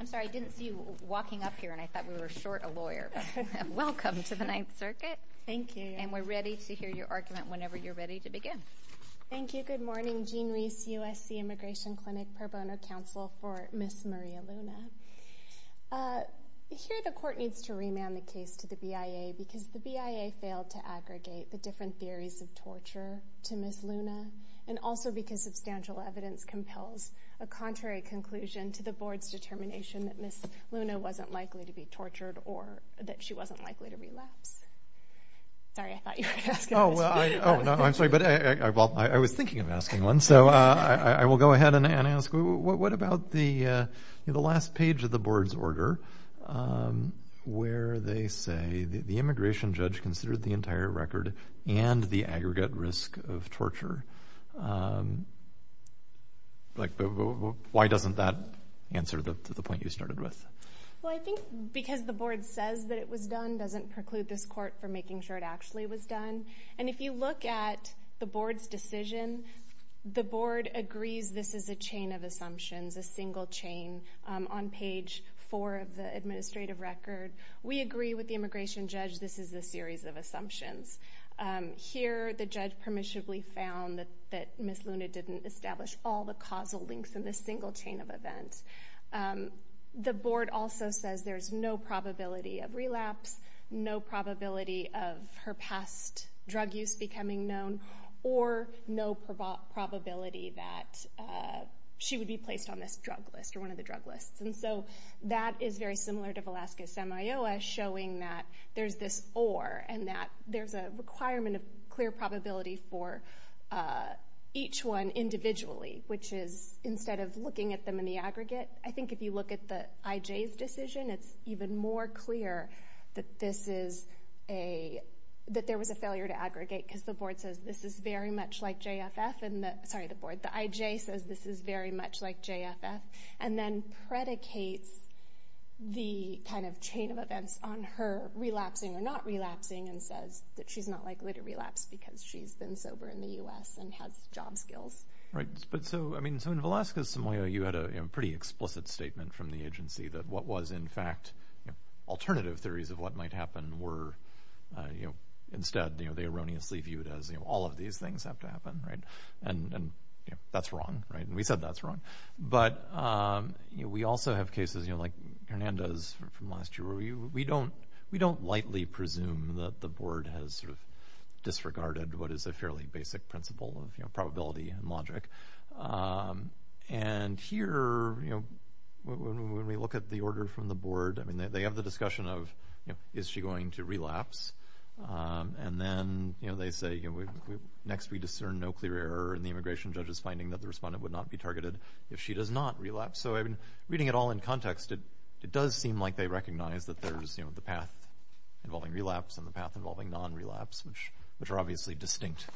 I'm sorry, I didn't see you walking up here, and I thought we were short a lawyer. Welcome to the Ninth Circuit. Thank you. And we're ready to hear your argument whenever you're ready to begin. Thank you. Good morning. Jean Reese, USC Immigration Clinic Pro Bono Counsel for Ms. Maria Luna. Here, the court needs to remand the case to the BIA because the BIA failed to aggregate the different theories of torture to Ms. Luna, and also because substantial evidence compels a contrary conclusion to the board's determination that Ms. Luna wasn't likely to be tortured or that she wasn't likely to relapse. Sorry, I thought you were going to ask a question. Oh, I'm sorry, but I was thinking of asking one. So I will go ahead and ask, what about the last page of the board's order where they say the immigration judge considered the entire record and the aggregate risk of torture? Like, why doesn't that answer the point you started with? Well, I think because the board says that it was done doesn't preclude this court from making sure it actually was done. And if you look at the board's decision, the board agrees this is a chain of assumptions, a single chain on page four of the administrative record. We agree with the immigration judge this is a series of assumptions. Here, the judge permissibly found that Ms. Luna didn't establish all the causal links in this single chain of events. The board also says there's no probability of relapse, no probability of her past drug use becoming known, or no probability that she would be placed on this drug list or one of the drug lists. And so that is very similar to Velasquez-Samayoa, showing that there's this or, and that there's a requirement of clear probability for each one individually, which is instead of looking at them in the aggregate, I think if you look at the IJ's decision, it's even more clear that there was a failure to aggregate because the board says this is very much like JFF. Sorry, the board. The IJ says this is very much like JFF. And then predicates the kind of chain of events on her relapsing or not relapsing and says that she's not likely to relapse because she's been sober in the U.S. and has job skills. Right. But so, I mean, so in Velasquez-Samayoa, you had a pretty explicit statement from the agency that what was in fact alternative theories of what might happen were, you know, instead they erroneously viewed as all of these things have to happen, right? And we said that's wrong. But, you know, we also have cases, you know, like Hernandez from last year where we don't lightly presume that the board has sort of disregarded what is a fairly basic principle of probability and logic. And here, you know, when we look at the order from the board, I mean, they have the discussion of, you know, is she going to relapse? And then, you know, they say, you know, next we discern no clear error in the immigration judge's finding that the respondent would not be targeted if she does not relapse. So, I mean, reading it all in context, it does seem like they recognize that there's, you know, the path involving relapse and the path involving non-relapse, which are obviously distinct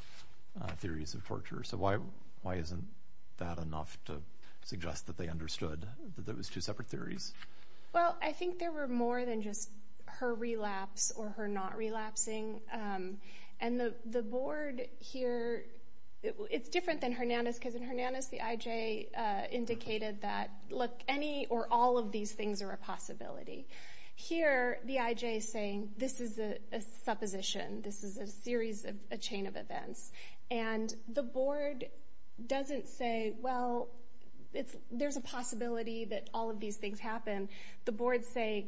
theories of torture. So, why isn't that enough to suggest that they understood those two separate theories? Well, I think there were more than just her relapse or her not relapsing. And the board here, it's different than Hernandez, because in Hernandez, the IJ indicated that, look, any or all of these things are a possibility. Here, the IJ is saying, this is a supposition. This is a series of a chain of events. And the board doesn't say, well, there's a possibility that all of these things happen. The board say,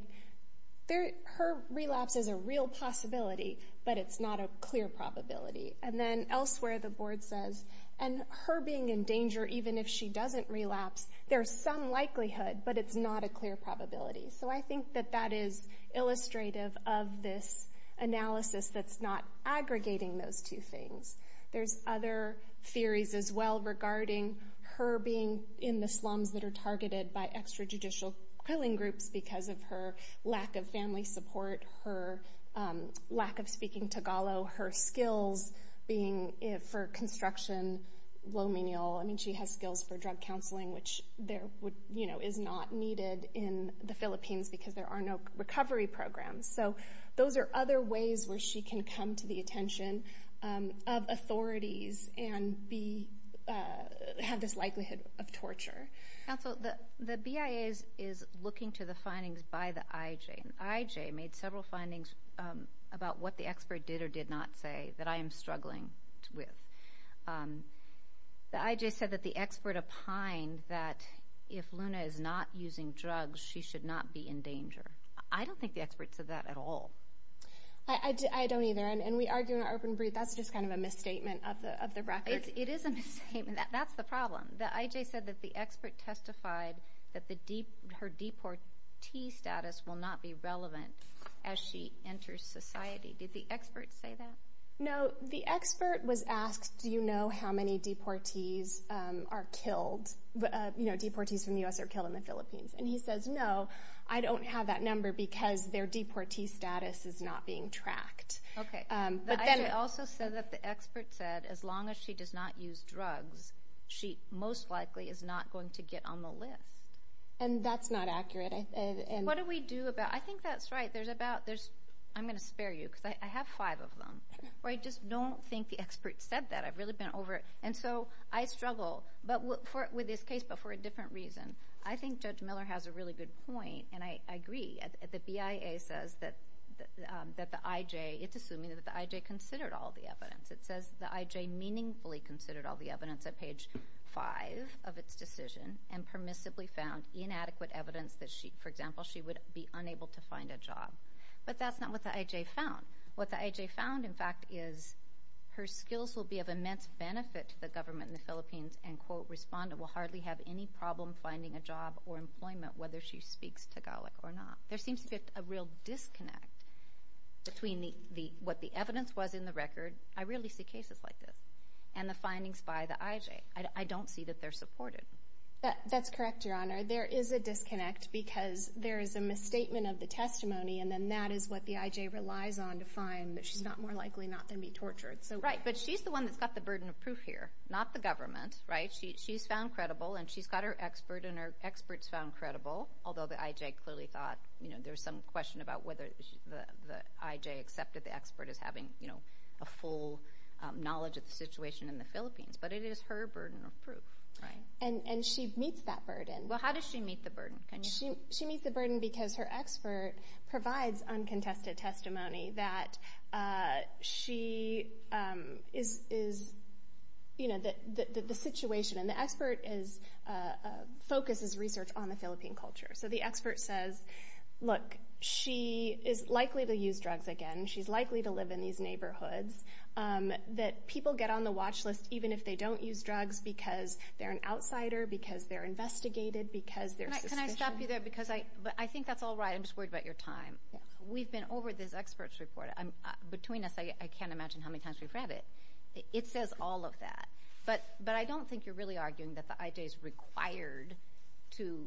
her relapse is a real possibility, but it's not a clear probability. And then elsewhere, the board says, and her being in danger even if she doesn't relapse, there's some likelihood, but it's not a clear probability. So, I think that that is illustrative of this analysis that's not aggregating those two things. There's other theories as well regarding her being in the slums that are targeted by extrajudicial killing groups because of her lack of family support, her lack of speaking Tagalog, her skills being for construction, low menial. I mean, she has skills for drug counseling, which is not needed in the Philippines because there are no recovery programs. So, those are other ways where she can come to the attention of authorities and have this likelihood of torture. Counsel, the BIA is looking to the findings by the IJ, and the IJ made several findings about what the expert did or did not say that I am struggling with. The IJ said that the expert opined that if Luna is not using drugs, she should not be in danger. I don't think the expert said that at all. I don't either, and we argue in our open brief. That's just kind of a misstatement of the record. It is a misstatement. That's the problem. The IJ said that the expert testified that her deportee status will not be relevant as she enters society. Did the expert say that? No. The expert was asked, do you know how many deportees are killed? You know, deportees from the U.S. are killed in the Philippines. And he says, no, I don't have that number because their deportee status is not being tracked. Okay. The IJ also said that the expert said as long as she does not use drugs, she most likely is not going to get on the list. And that's not accurate. What do we do about it? I think that's right. I'm going to spare you because I have five of them. I just don't think the expert said that. I've really been over it. And so I struggle with this case but for a different reason. I think Judge Miller has a really good point, and I agree. The BIA says that the IJ, it's assuming that the IJ considered all the evidence. It says the IJ meaningfully considered all the evidence at page five of its decision and permissibly found inadequate evidence that, for example, she would be unable to find a job. But that's not what the IJ found. What the IJ found, in fact, is her skills will be of immense benefit to the government in the Philippines and will hardly have any problem finding a job or employment whether she speaks Tagalog or not. There seems to be a real disconnect between what the evidence was in the record, I rarely see cases like this, and the findings by the IJ. I don't see that they're supported. That's correct, Your Honor. There is a disconnect because there is a misstatement of the testimony, and then that is what the IJ relies on to find that she's not more likely not to be tortured. Right, but she's the one that's got the burden of proof here, not the government, right? She's found credible, and she's got her expert, and her expert's found credible, although the IJ clearly thought there was some question about whether the IJ accepted the expert as having a full knowledge of the situation in the Philippines. But it is her burden of proof, right? And she meets that burden. Well, how does she meet the burden? She meets the burden because her expert provides uncontested testimony that she is, you know, the situation, and the expert focuses research on the Philippine culture. So the expert says, look, she is likely to use drugs again, she's likely to live in these neighborhoods, that people get on the watch list even if they don't use drugs because they're an outsider, because they're investigated, because there's suspicion. Can I stop you there? But I think that's all right. I'm just worried about your time. We've been over this expert's report. Between us, I can't imagine how many times we've read it. It says all of that. But I don't think you're really arguing that the IJ is required to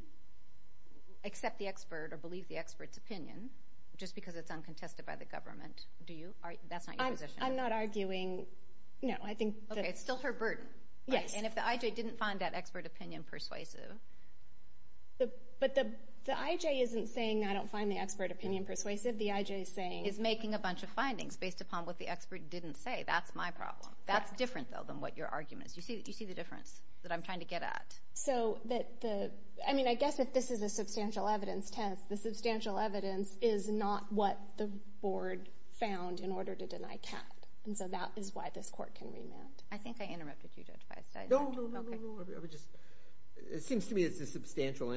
accept the expert or believe the expert's opinion just because it's uncontested by the government. Do you? That's not your position. I'm not arguing, no. Okay, it's still her burden. Yes. And if the IJ didn't find that expert opinion persuasive. But the IJ isn't saying I don't find the expert opinion persuasive. The IJ is saying. Is making a bunch of findings based upon what the expert didn't say. That's my problem. That's different, though, than what your argument is. You see the difference that I'm trying to get at. So, I mean, I guess if this is a substantial evidence test, the substantial evidence is not what the board found in order to deny Kat. And so that is why this court can remand. I think I interrupted you, Judge Feist. No, no, no, no. It seems to me it's a substantial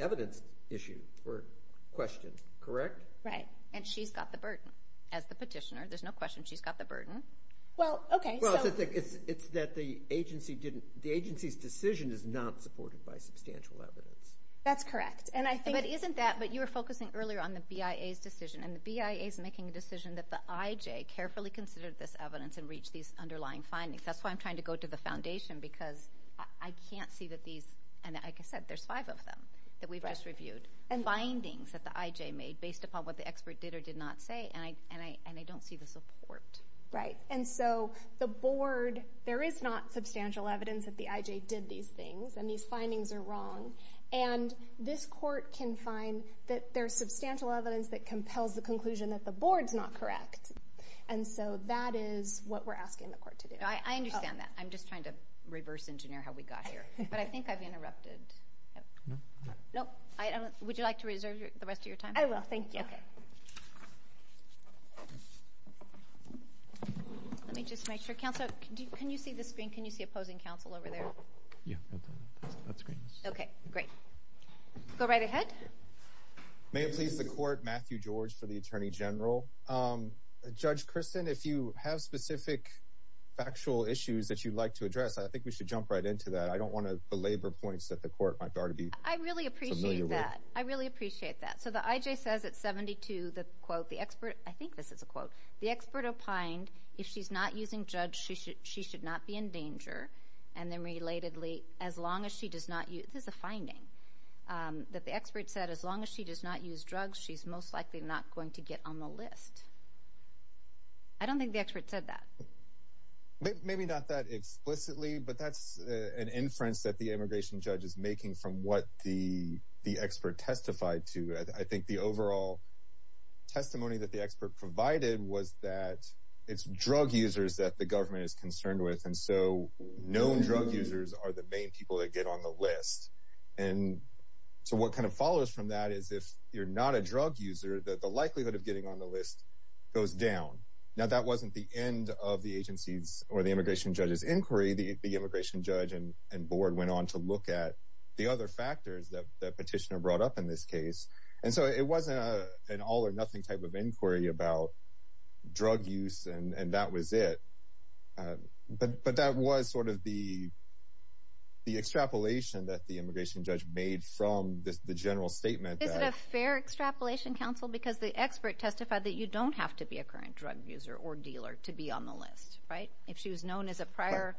evidence issue or question, correct? Right. And she's got the burden. As the petitioner, there's no question she's got the burden. Well, okay. Well, it's that the agency's decision is not supported by substantial evidence. That's correct. But isn't that, but you were focusing earlier on the BIA's decision, and the BIA's making a decision that the IJ carefully considered this evidence and reached these underlying findings. That's why I'm trying to go to the foundation because I can't see that these, and like I said, there's five of them that we've just reviewed, findings that the IJ made based upon what the expert did or did not say, and I don't see the support. Right. And so the board, there is not substantial evidence that the IJ did these things, and these findings are wrong. And this court can find that there's substantial evidence that compels the conclusion that the board's not correct. And so that is what we're asking the court to do. I understand that. I'm just trying to reverse engineer how we got here. But I think I've interrupted. No? No. Would you like to reserve the rest of your time? I will. Thank you. Okay. Let me just make sure. Counsel, can you see the screen? Can you see opposing counsel over there? Yeah. That screen. Okay. Great. Go right ahead. May it please the court, Matthew George for the Attorney General. Judge Kristen, if you have specific factual issues that you'd like to address, I think we should jump right into that. I don't want to belabor points that the court might already be familiar with. I really appreciate that. I really appreciate that. So the IJ says at 72, the quote, the expert, I think this is a quote, the expert opined if she's not using judge, she should not be in danger. That the expert said as long as she does not use drugs, she's most likely not going to get on the list. I don't think the expert said that. Maybe not that explicitly, but that's an inference that the immigration judge is making from what the expert testified to. I think the overall testimony that the expert provided was that it's drug users that the government is concerned with, and so known drug users are the main people that get on the list. And so what kind of follows from that is if you're not a drug user, that the likelihood of getting on the list goes down. Now that wasn't the end of the agency's or the immigration judge's inquiry. The immigration judge and board went on to look at the other factors that petitioner brought up in this case. And so it wasn't an all or nothing type of inquiry about drug use. And that was it. But that was sort of the extrapolation that the immigration judge made from the general statement. Is it a fair extrapolation, counsel? Because the expert testified that you don't have to be a current drug user or dealer to be on the list, right? If she was known as a prior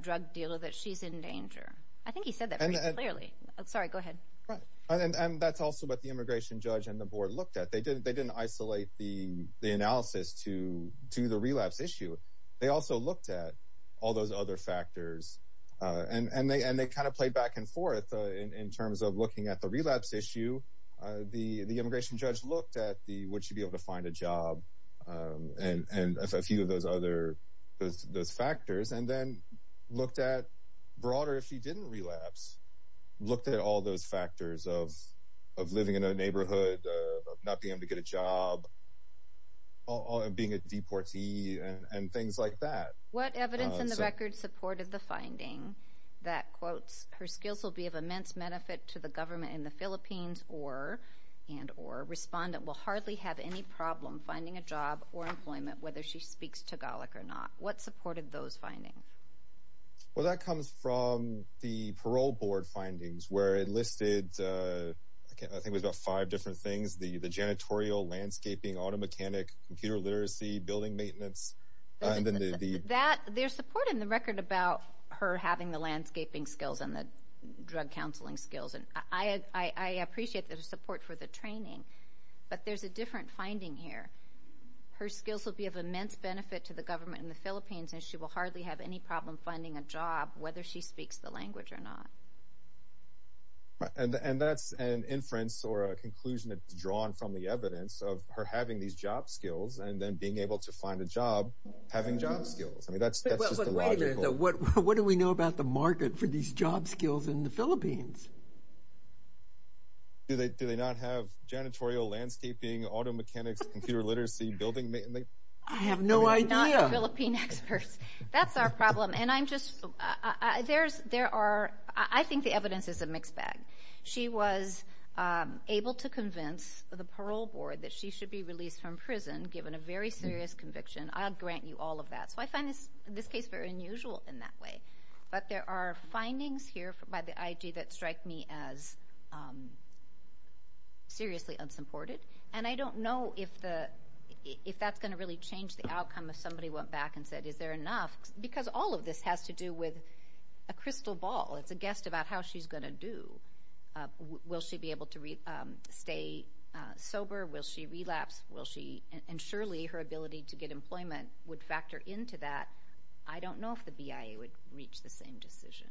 drug dealer, that she's in danger. I think he said that pretty clearly. Sorry, go ahead. And that's also what the immigration judge and the board looked at. They didn't isolate the analysis to the relapse issue. They also looked at all those other factors. And they kind of played back and forth in terms of looking at the relapse issue. The immigration judge looked at would she be able to find a job and a few of those other factors. And then looked at broader if she didn't relapse, looked at all those factors of living in a neighborhood, not being able to get a job, being a deportee, and things like that. What evidence in the record supported the finding that, quotes, her skills will be of immense benefit to the government in the Philippines and or respondent will hardly have any problem finding a job or employment whether she speaks Tagalog or not? What supported those findings? Well, that comes from the parole board findings where it listed, I think it was the janitorial, landscaping, auto mechanic, computer literacy, building maintenance. There's support in the record about her having the landscaping skills and the drug counseling skills. And I appreciate the support for the training. But there's a different finding here. Her skills will be of immense benefit to the government in the Philippines and she will hardly have any problem finding a job whether she speaks the language or not. And that's an inference or a conclusion that's drawn from the evidence of her having these job skills and then being able to find a job having job skills. I mean, that's just illogical. Wait a minute. What do we know about the market for these job skills in the Philippines? Do they not have janitorial, landscaping, auto mechanics, computer literacy, building maintenance? I have no idea. They're not Philippine experts. That's our problem. I think the evidence is a mixed bag. She was able to convince the parole board that she should be released from prison given a very serious conviction. I'll grant you all of that. So I find this case very unusual in that way. But there are findings here by the IG that strike me as seriously unsupported. And I don't know if that's going to really change the outcome if somebody went back and said, is there enough? Because all of this has to do with a crystal ball. It's a guess about how she's going to do. Will she be able to stay sober? Will she relapse? And surely her ability to get employment would factor into that. I don't know if the BIA would reach the same decision.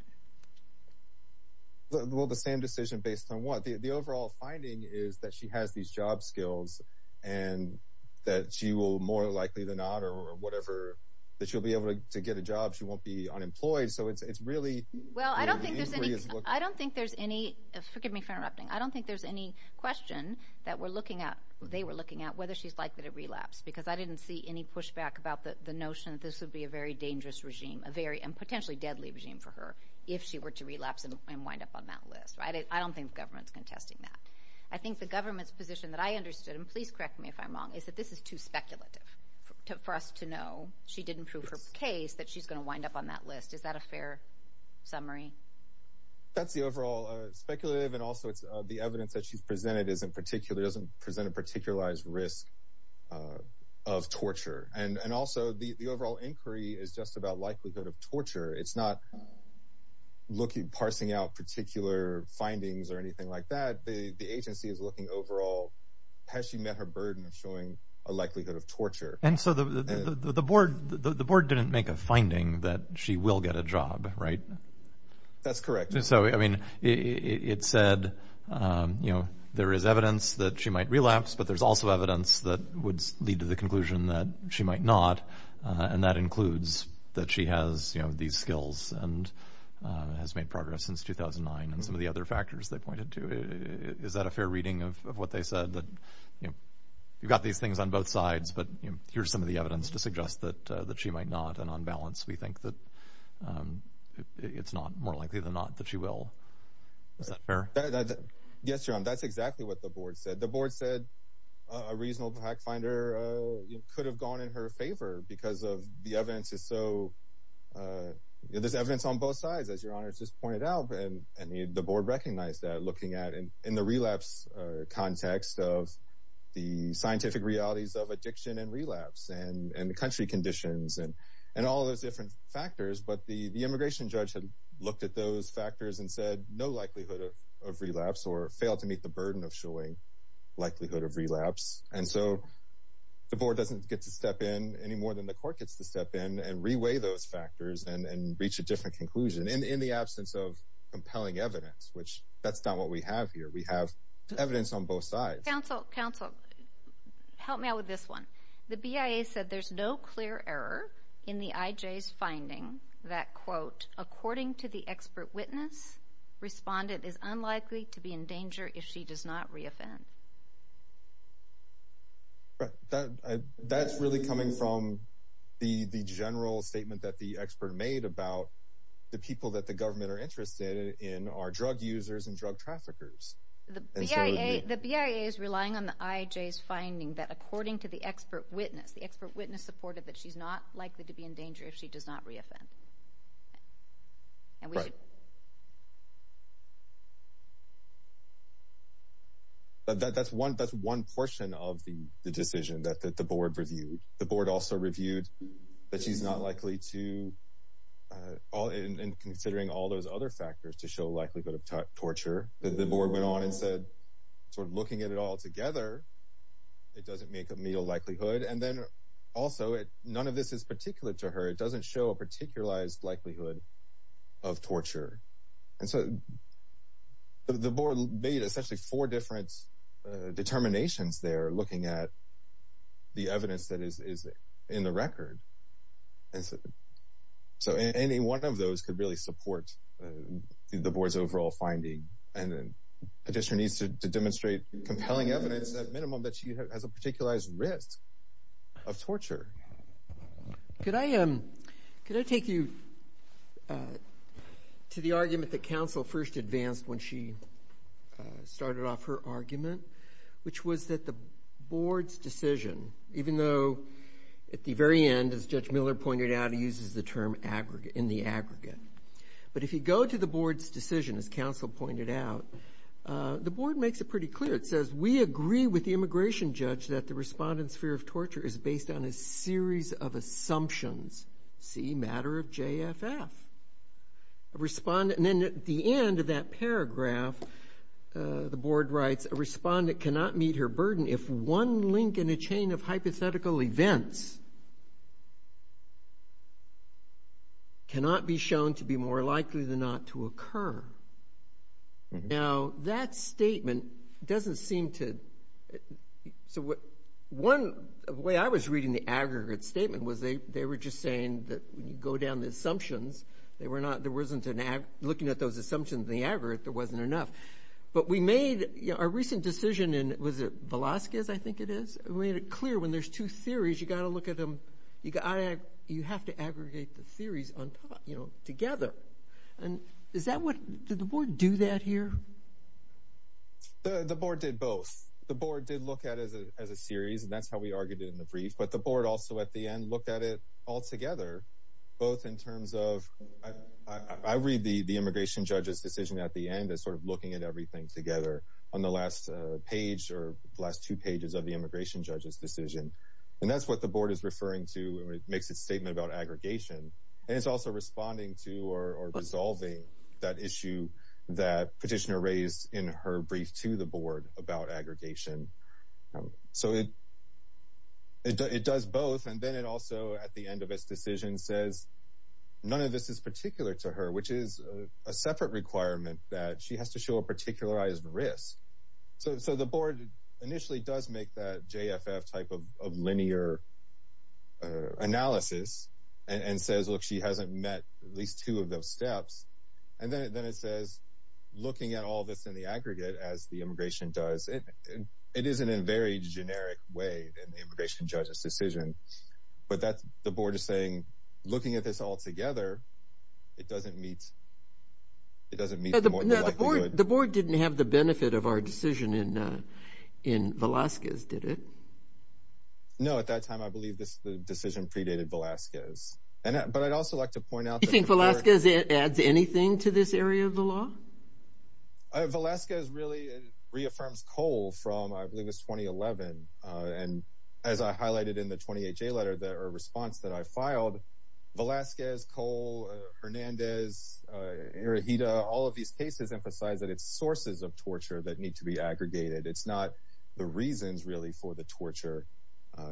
Well, the same decision based on what? The overall finding is that she has these job skills and that she will more likely than not or whatever, that she'll be able to get a job. She won't be unemployed. So it's really where the inquiry is looking. Well, I don't think there's any question that we're looking at, they were looking at, whether she's likely to relapse. Because I didn't see any pushback about the notion that this would be a very dangerous regime and potentially deadly regime for her if she were to relapse and wind up on that list. I don't think the government's contesting that. I think the government's position that I understood, and please correct me if I'm wrong, is that this is too speculative for us to know. She didn't prove her case that she's going to wind up on that list. Is that a fair summary? That's the overall speculative, and also the evidence that she's presented doesn't present a particularized risk of torture. And also the overall inquiry is just about likelihood of torture. It's not parsing out particular findings or anything like that. The agency is looking overall, has she met her burden of showing a likelihood of torture? And so the board didn't make a finding that she will get a job, right? That's correct. So, I mean, it said, you know, there is evidence that she might relapse, but there's also evidence that would lead to the conclusion that she might not, and that includes that she has, you know, these skills and has made progress since 2009, and some of the other factors they pointed to. Is that a fair reading of what they said, that, you know, you've got these things on both sides, but here's some of the evidence to suggest that she might not, and on balance we think that it's not more likely than not that she will. Is that fair? Yes, John, that's exactly what the board said. The board said a reasonable fact finder could have gone in her favor because of the evidence is so, you know, there's evidence on both sides, as your honors just pointed out, and the board recognized that looking at, in the relapse context of the scientific realities of addiction and relapse and the country conditions and all those different factors, but the immigration judge had looked at those factors and said no likelihood of relapse or failed to meet the burden of showing likelihood of relapse, and so the board doesn't get to step in any more than the court gets to step in and reweigh those factors and reach a different conclusion. In the absence of compelling evidence, which that's not what we have here, we have evidence on both sides. Counsel, counsel, help me out with this one. The BIA said there's no clear error in the IJ's finding that, quote, according to the expert witness, respondent is unlikely to be in danger if she does not reoffend. That's really coming from the general statement that the expert made about the people that the government are interested in are drug users and drug traffickers. The BIA is relying on the IJ's finding that according to the expert witness, the expert witness supported that she's not likely to be in danger if she does not reoffend. Right. That's one portion of the decision that the board reviewed. The board also reviewed that she's not likely to, and considering all those other factors to show likelihood of torture, the board went on and said sort of looking at it all together, it doesn't make a meal likelihood. And then also none of this is particular to her. It doesn't show a particularized likelihood of torture. And so the board made essentially four different determinations there looking at the evidence that is in the record. So any one of those could really support the board's overall finding. And the petitioner needs to demonstrate compelling evidence, at minimum, that she has a particularized risk of torture. Could I take you to the argument that counsel first advanced when she started off her argument, which was that the board's decision, even though at the very end, as Judge Miller pointed out, he uses the term in the aggregate. But if you go to the board's decision, as counsel pointed out, the board makes it pretty clear. It says, we agree with the immigration judge that the respondent's fear of torture is based on a series of assumptions. See, matter of JFF. And then at the end of that paragraph, the board writes, a respondent cannot meet her burden if one link in a chain of hypothetical events cannot be shown to be more likely than not to occur. Now, that statement doesn't seem to – so one way I was reading the aggregate statement was they were just saying that when you go down the assumptions, there wasn't – looking at those assumptions in the aggregate, there wasn't enough. But we made a recent decision in – was it Velazquez, I think it is? We made it clear when there's two theories, you've got to look at them – you have to aggregate the theories together. And is that what – did the board do that here? The board did both. The board did look at it as a series, and that's how we argued it in the brief. But the board also at the end looked at it all together, both in terms of – I read the immigration judge's decision at the end as sort of looking at everything together on the last page or the last two pages of the immigration judge's decision. And that's what the board is referring to when it makes its statement about aggregation. And it's also responding to or resolving that issue that petitioner raised in her brief to the board about aggregation. So it does both. And then it also at the end of its decision says none of this is particular to her, which is a separate requirement that she has to show a particularized risk. So the board initially does make that JFF type of linear analysis and says, look, she hasn't met at least two of those steps. And then it says, looking at all this in the aggregate as the immigration does, it is in a very generic way in the immigration judge's decision. But the board is saying, looking at this all together, it doesn't meet the likelihood. The board didn't have the benefit of our decision in Velazquez, did it? No, at that time I believe the decision predated Velazquez. But I'd also like to point out. Do you think Velazquez adds anything to this area of the law? Velazquez really reaffirms Cole from I believe it was 2011. And as I highlighted in the 28-J letter, the response that I filed, Velazquez, Cole, Hernandez, Iruhita, all of these cases emphasize that it's sources of torture that need to be aggregated. It's not the reasons really for the torture.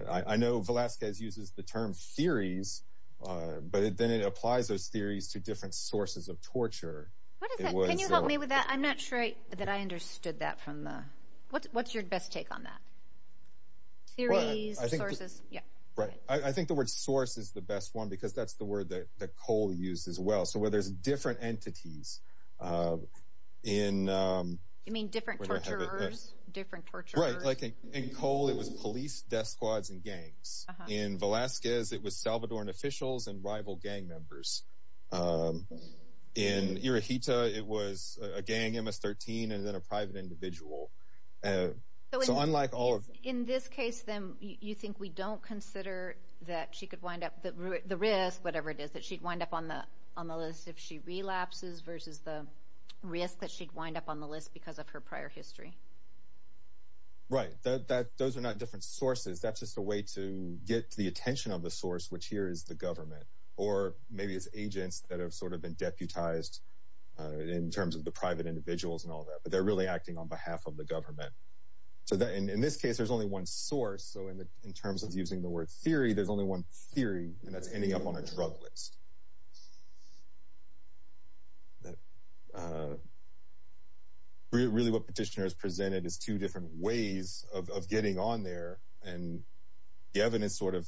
I know Velazquez uses the term theories, but then it applies those theories to different sources of torture. Can you help me with that? I'm not sure that I understood that from the. What's your best take on that? Theories, sources. I think the word source is the best one because that's the word that Cole used as well. So where there's different entities in. You mean different torturers, different torturers. Right. Like in Cole it was police, death squads, and gangs. In Velazquez it was Salvadoran officials and rival gang members. In Iruhita it was a gang, MS-13, and then a private individual. So unlike all. In this case then you think we don't consider that she could wind up, the risk, whatever it is, that she'd wind up on the list if she relapses versus the risk that she'd wind up on the list because of her prior history. Right. Those are not different sources. That's just a way to get the attention of the source, which here is the government, or maybe it's agents that have sort of been deputized in terms of the private individuals and all that, but they're really acting on behalf of the government. So in this case there's only one source. So in terms of using the word theory, there's only one theory, and that's ending up on a drug list. Really what Petitioner has presented is two different ways of getting on there, and the evidence sort of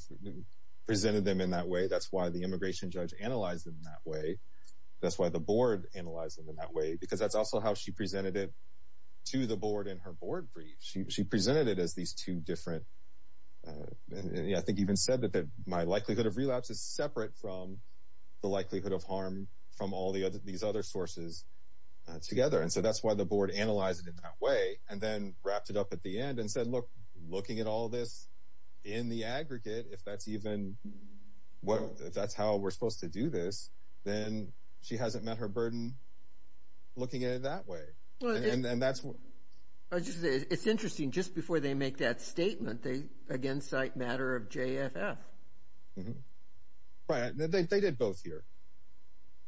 presented them in that way. That's why the immigration judge analyzed them that way. That's why the board analyzed them in that way because that's also how she presented it to the board in her board brief. She presented it as these two different, I think even said that my likelihood of relapse is separate from the likelihood of harm from all these other sources together. So that's why the board analyzed it in that way and then wrapped it up at the end and said, look, looking at all this in the aggregate, if that's how we're supposed to do this, then she hasn't met her burden looking at it that way. It's interesting. Just before they make that statement, they again cite matter of JFF. Right. They did both here.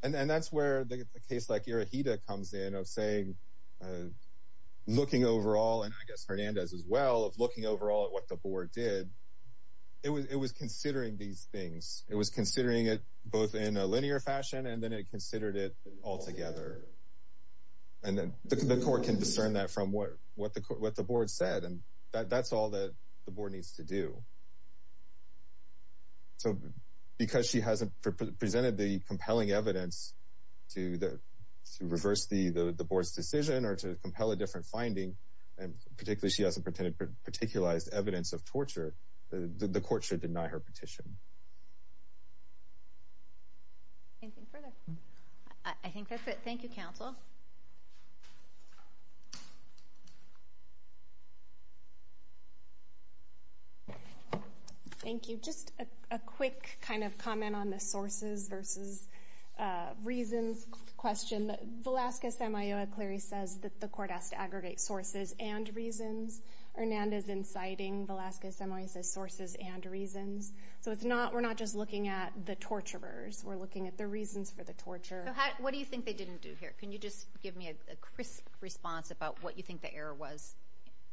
And that's where a case like Irohita comes in of saying looking overall, and I guess Hernandez as well, of looking overall at what the board did. It was considering these things. It was considering it both in a linear fashion and then it considered it altogether. And the court can discern that from what the board said. And that's all that the board needs to do. So because she hasn't presented the compelling evidence to reverse the board's decision or to compel a different finding, and particularly she hasn't particularized evidence of torture, the court should deny her petition. Anything further? I think that's it. Thank you, counsel. Thank you. Just a quick kind of comment on the sources versus reasons question. Velasquez-Semillo, clearly, says that the court has to aggregate sources and reasons. Hernandez, in citing Velasquez-Semillo, says sources and reasons. So we're not just looking at the torturers. We're looking at the reasons for the torture. So what do you think they didn't do here? Can you just give me a crisp response about what you think the error was?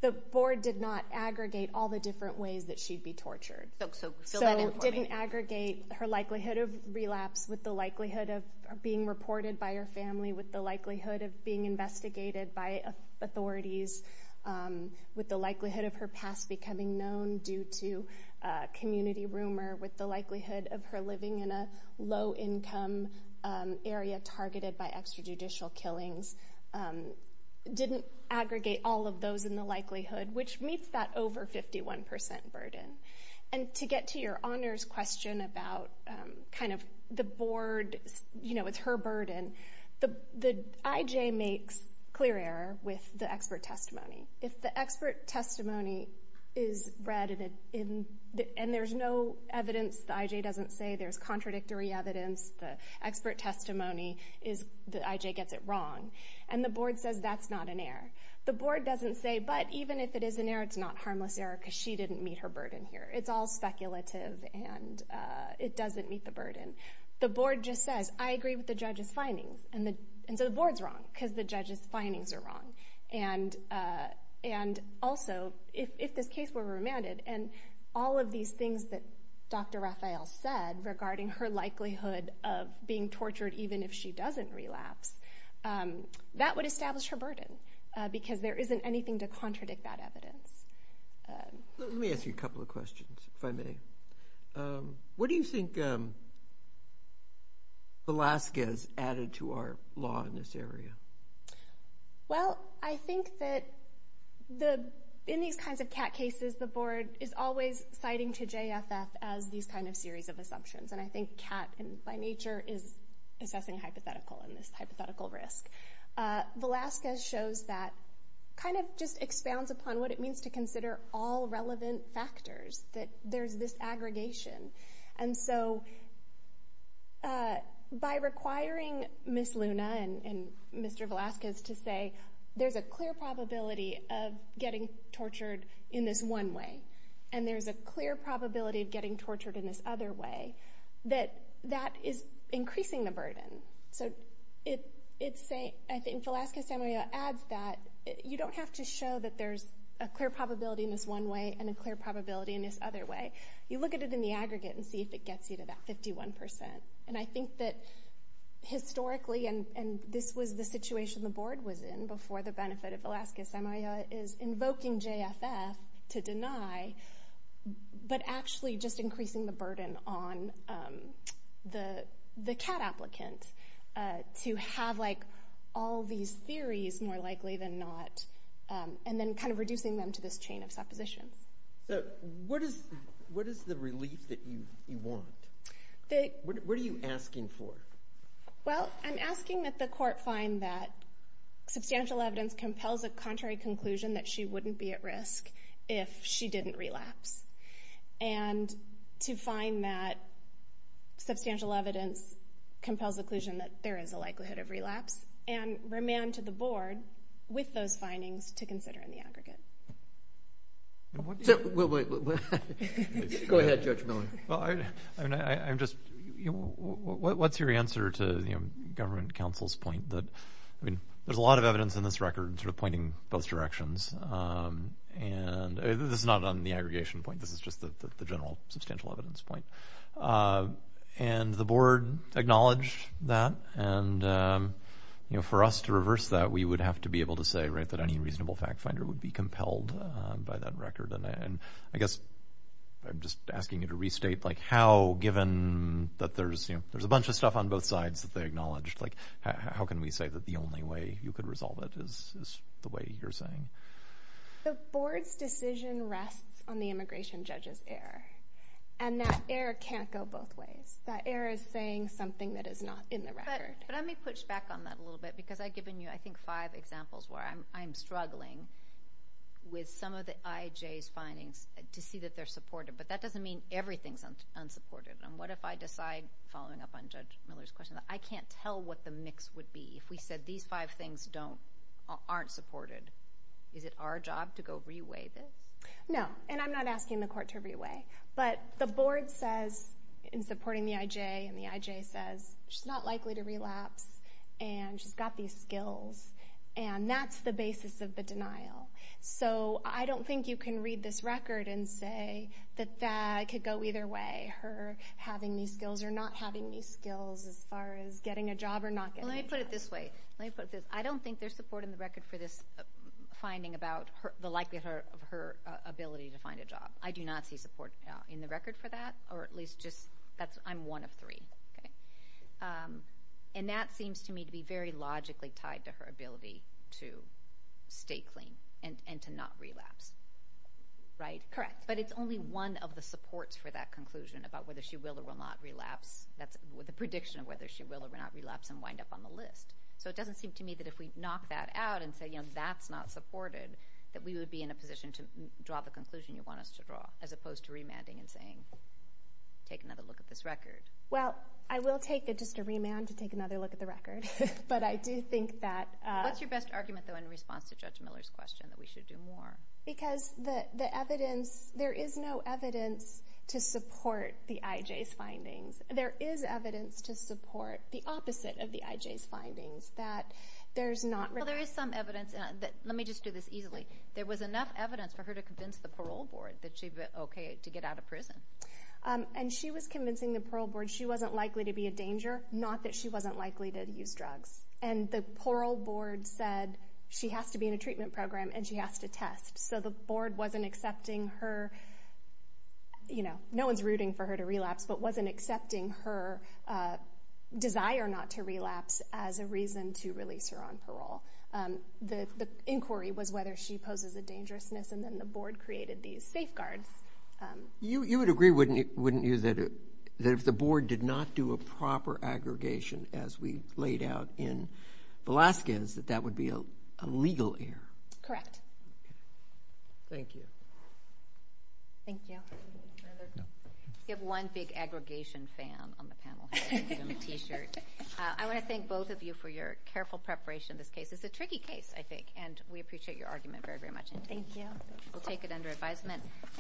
The board did not aggregate all the different ways that she'd be tortured. So fill that in for me. So it didn't aggregate her likelihood of relapse with the likelihood of being reported by her family, with the likelihood of being investigated by authorities, with the likelihood of her past becoming known due to community rumor, with the likelihood of her living in a low-income area targeted by extrajudicial killings. It didn't aggregate all of those in the likelihood, which meets that over 51% burden. And to get to your honors question about kind of the board, you know, it's her burden. The IJ makes clear error with the expert testimony. If the expert testimony is read and there's no evidence, the IJ doesn't say there's contradictory evidence, the expert testimony, the IJ gets it wrong. And the board says that's not an error. The board doesn't say, but even if it is an error, it's not harmless error because she didn't meet her burden here. It's all speculative, and it doesn't meet the burden. The board just says, I agree with the judge's findings. And so the board's wrong because the judge's findings are wrong. And also, if this case were remanded and all of these things that Dr. Raphael said regarding her likelihood of being tortured even if she doesn't relapse, that would establish her burden because there isn't anything to contradict that evidence. Let me ask you a couple of questions, if I may. What do you think Alaska has added to our law in this area? Well, I think that in these kinds of CAT cases, the board is always citing to JFF as these kind of series of assumptions. And I think CAT, by nature, is assessing hypothetical and this hypothetical risk. Alaska shows that, kind of just expounds upon what it means to consider all relevant factors, that there's this aggregation. And so by requiring Ms. Luna and Mr. Velazquez to say, there's a clear probability of getting tortured in this one way, and there's a clear probability of getting tortured in this other way, that that is increasing the burden. So I think Velazquez-Samuel adds that you don't have to show that there's a clear probability in this one way and a clear probability in this other way. You look at it in the aggregate and see if it gets you to that 51%. And I think that historically, and this was the situation the board was in before the benefit of Velazquez-Samuel, is invoking JFF to deny, but actually just increasing the burden on the CAT applicant to have all these theories more likely than not, and then kind of reducing them to this chain of suppositions. So what is the relief that you want? What are you asking for? Well, I'm asking that the court find that substantial evidence compels a contrary conclusion that she wouldn't be at risk if she didn't relapse, and to find that substantial evidence compels the conclusion that there is a likelihood of relapse, and remand to the board with those findings to consider in the aggregate. Go ahead, Judge Miller. I'm just, what's your answer to the government counsel's point that, I mean, there's a lot of evidence in this record sort of pointing both directions. And this is not on the aggregation point. This is just the general substantial evidence point. And the board acknowledged that, and, you know, for us to reverse that, we would have to be able to say, right, that any reasonable fact finder would be compelled by that record. And I guess I'm just asking you to restate, like, how, given that there's a bunch of stuff on both sides that they acknowledged, like, how can we say that the only way you could resolve it is the way you're saying? The board's decision rests on the immigration judge's error. And that error can't go both ways. That error is saying something that is not in the record. But let me push back on that a little bit because I've given you, I think, five examples where I'm struggling with some of the IJ's findings to see that they're supported. But that doesn't mean everything's unsupported. And what if I decide, following up on Judge Miller's question, that I can't tell what the mix would be if we said these five things aren't supported? Is it our job to go re-weigh this? No, and I'm not asking the court to re-weigh. But the board says in supporting the IJ, and the IJ says she's not likely to relapse, and she's got these skills, and that's the basis of the denial. So I don't think you can read this record and say that that could go either way, her having these skills or not having these skills as far as getting a job or not getting a job. Well, let me put it this way. Let me put it this way. I don't think there's support in the record for this finding about the likelihood of her ability to find a job. I do not see support in the record for that, or at least just that I'm one of three. And that seems to me to be very logically tied to her ability to stay clean and to not relapse, right? Correct. But it's only one of the supports for that conclusion about whether she will or will not relapse. That's the prediction of whether she will or will not relapse and wind up on the list. So it doesn't seem to me that if we knock that out and say, you know, that's not supported, that we would be in a position to draw the conclusion you want us to draw, as opposed to remanding and saying, take another look at this record. Well, I will take just a remand to take another look at the record. But I do think that— What's your best argument, though, in response to Judge Miller's question that we should do more? Because the evidence—there is no evidence to support the IJ's findings. There is evidence to support the opposite of the IJ's findings, that there's not— Well, there is some evidence. Let me just do this easily. There was enough evidence for her to convince the parole board that she'd be okay to get out of prison. And she was convincing the parole board she wasn't likely to be a danger, not that she wasn't likely to use drugs. And the parole board said she has to be in a treatment program and she has to test. So the board wasn't accepting her—you know, no one's rooting for her to relapse, but wasn't accepting her desire not to relapse as a reason to release her on parole. The inquiry was whether she poses a dangerousness, and then the board created these safeguards. You would agree, wouldn't you, that if the board did not do a proper aggregation, as we laid out in Velazquez, that that would be a legal error? Correct. Thank you. Thank you. We have one big aggregation fan on the panel here in a t-shirt. I want to thank both of you for your careful preparation. This case is a tricky case, I think, and we appreciate your argument very, very much. Thank you. We'll take it under advisement.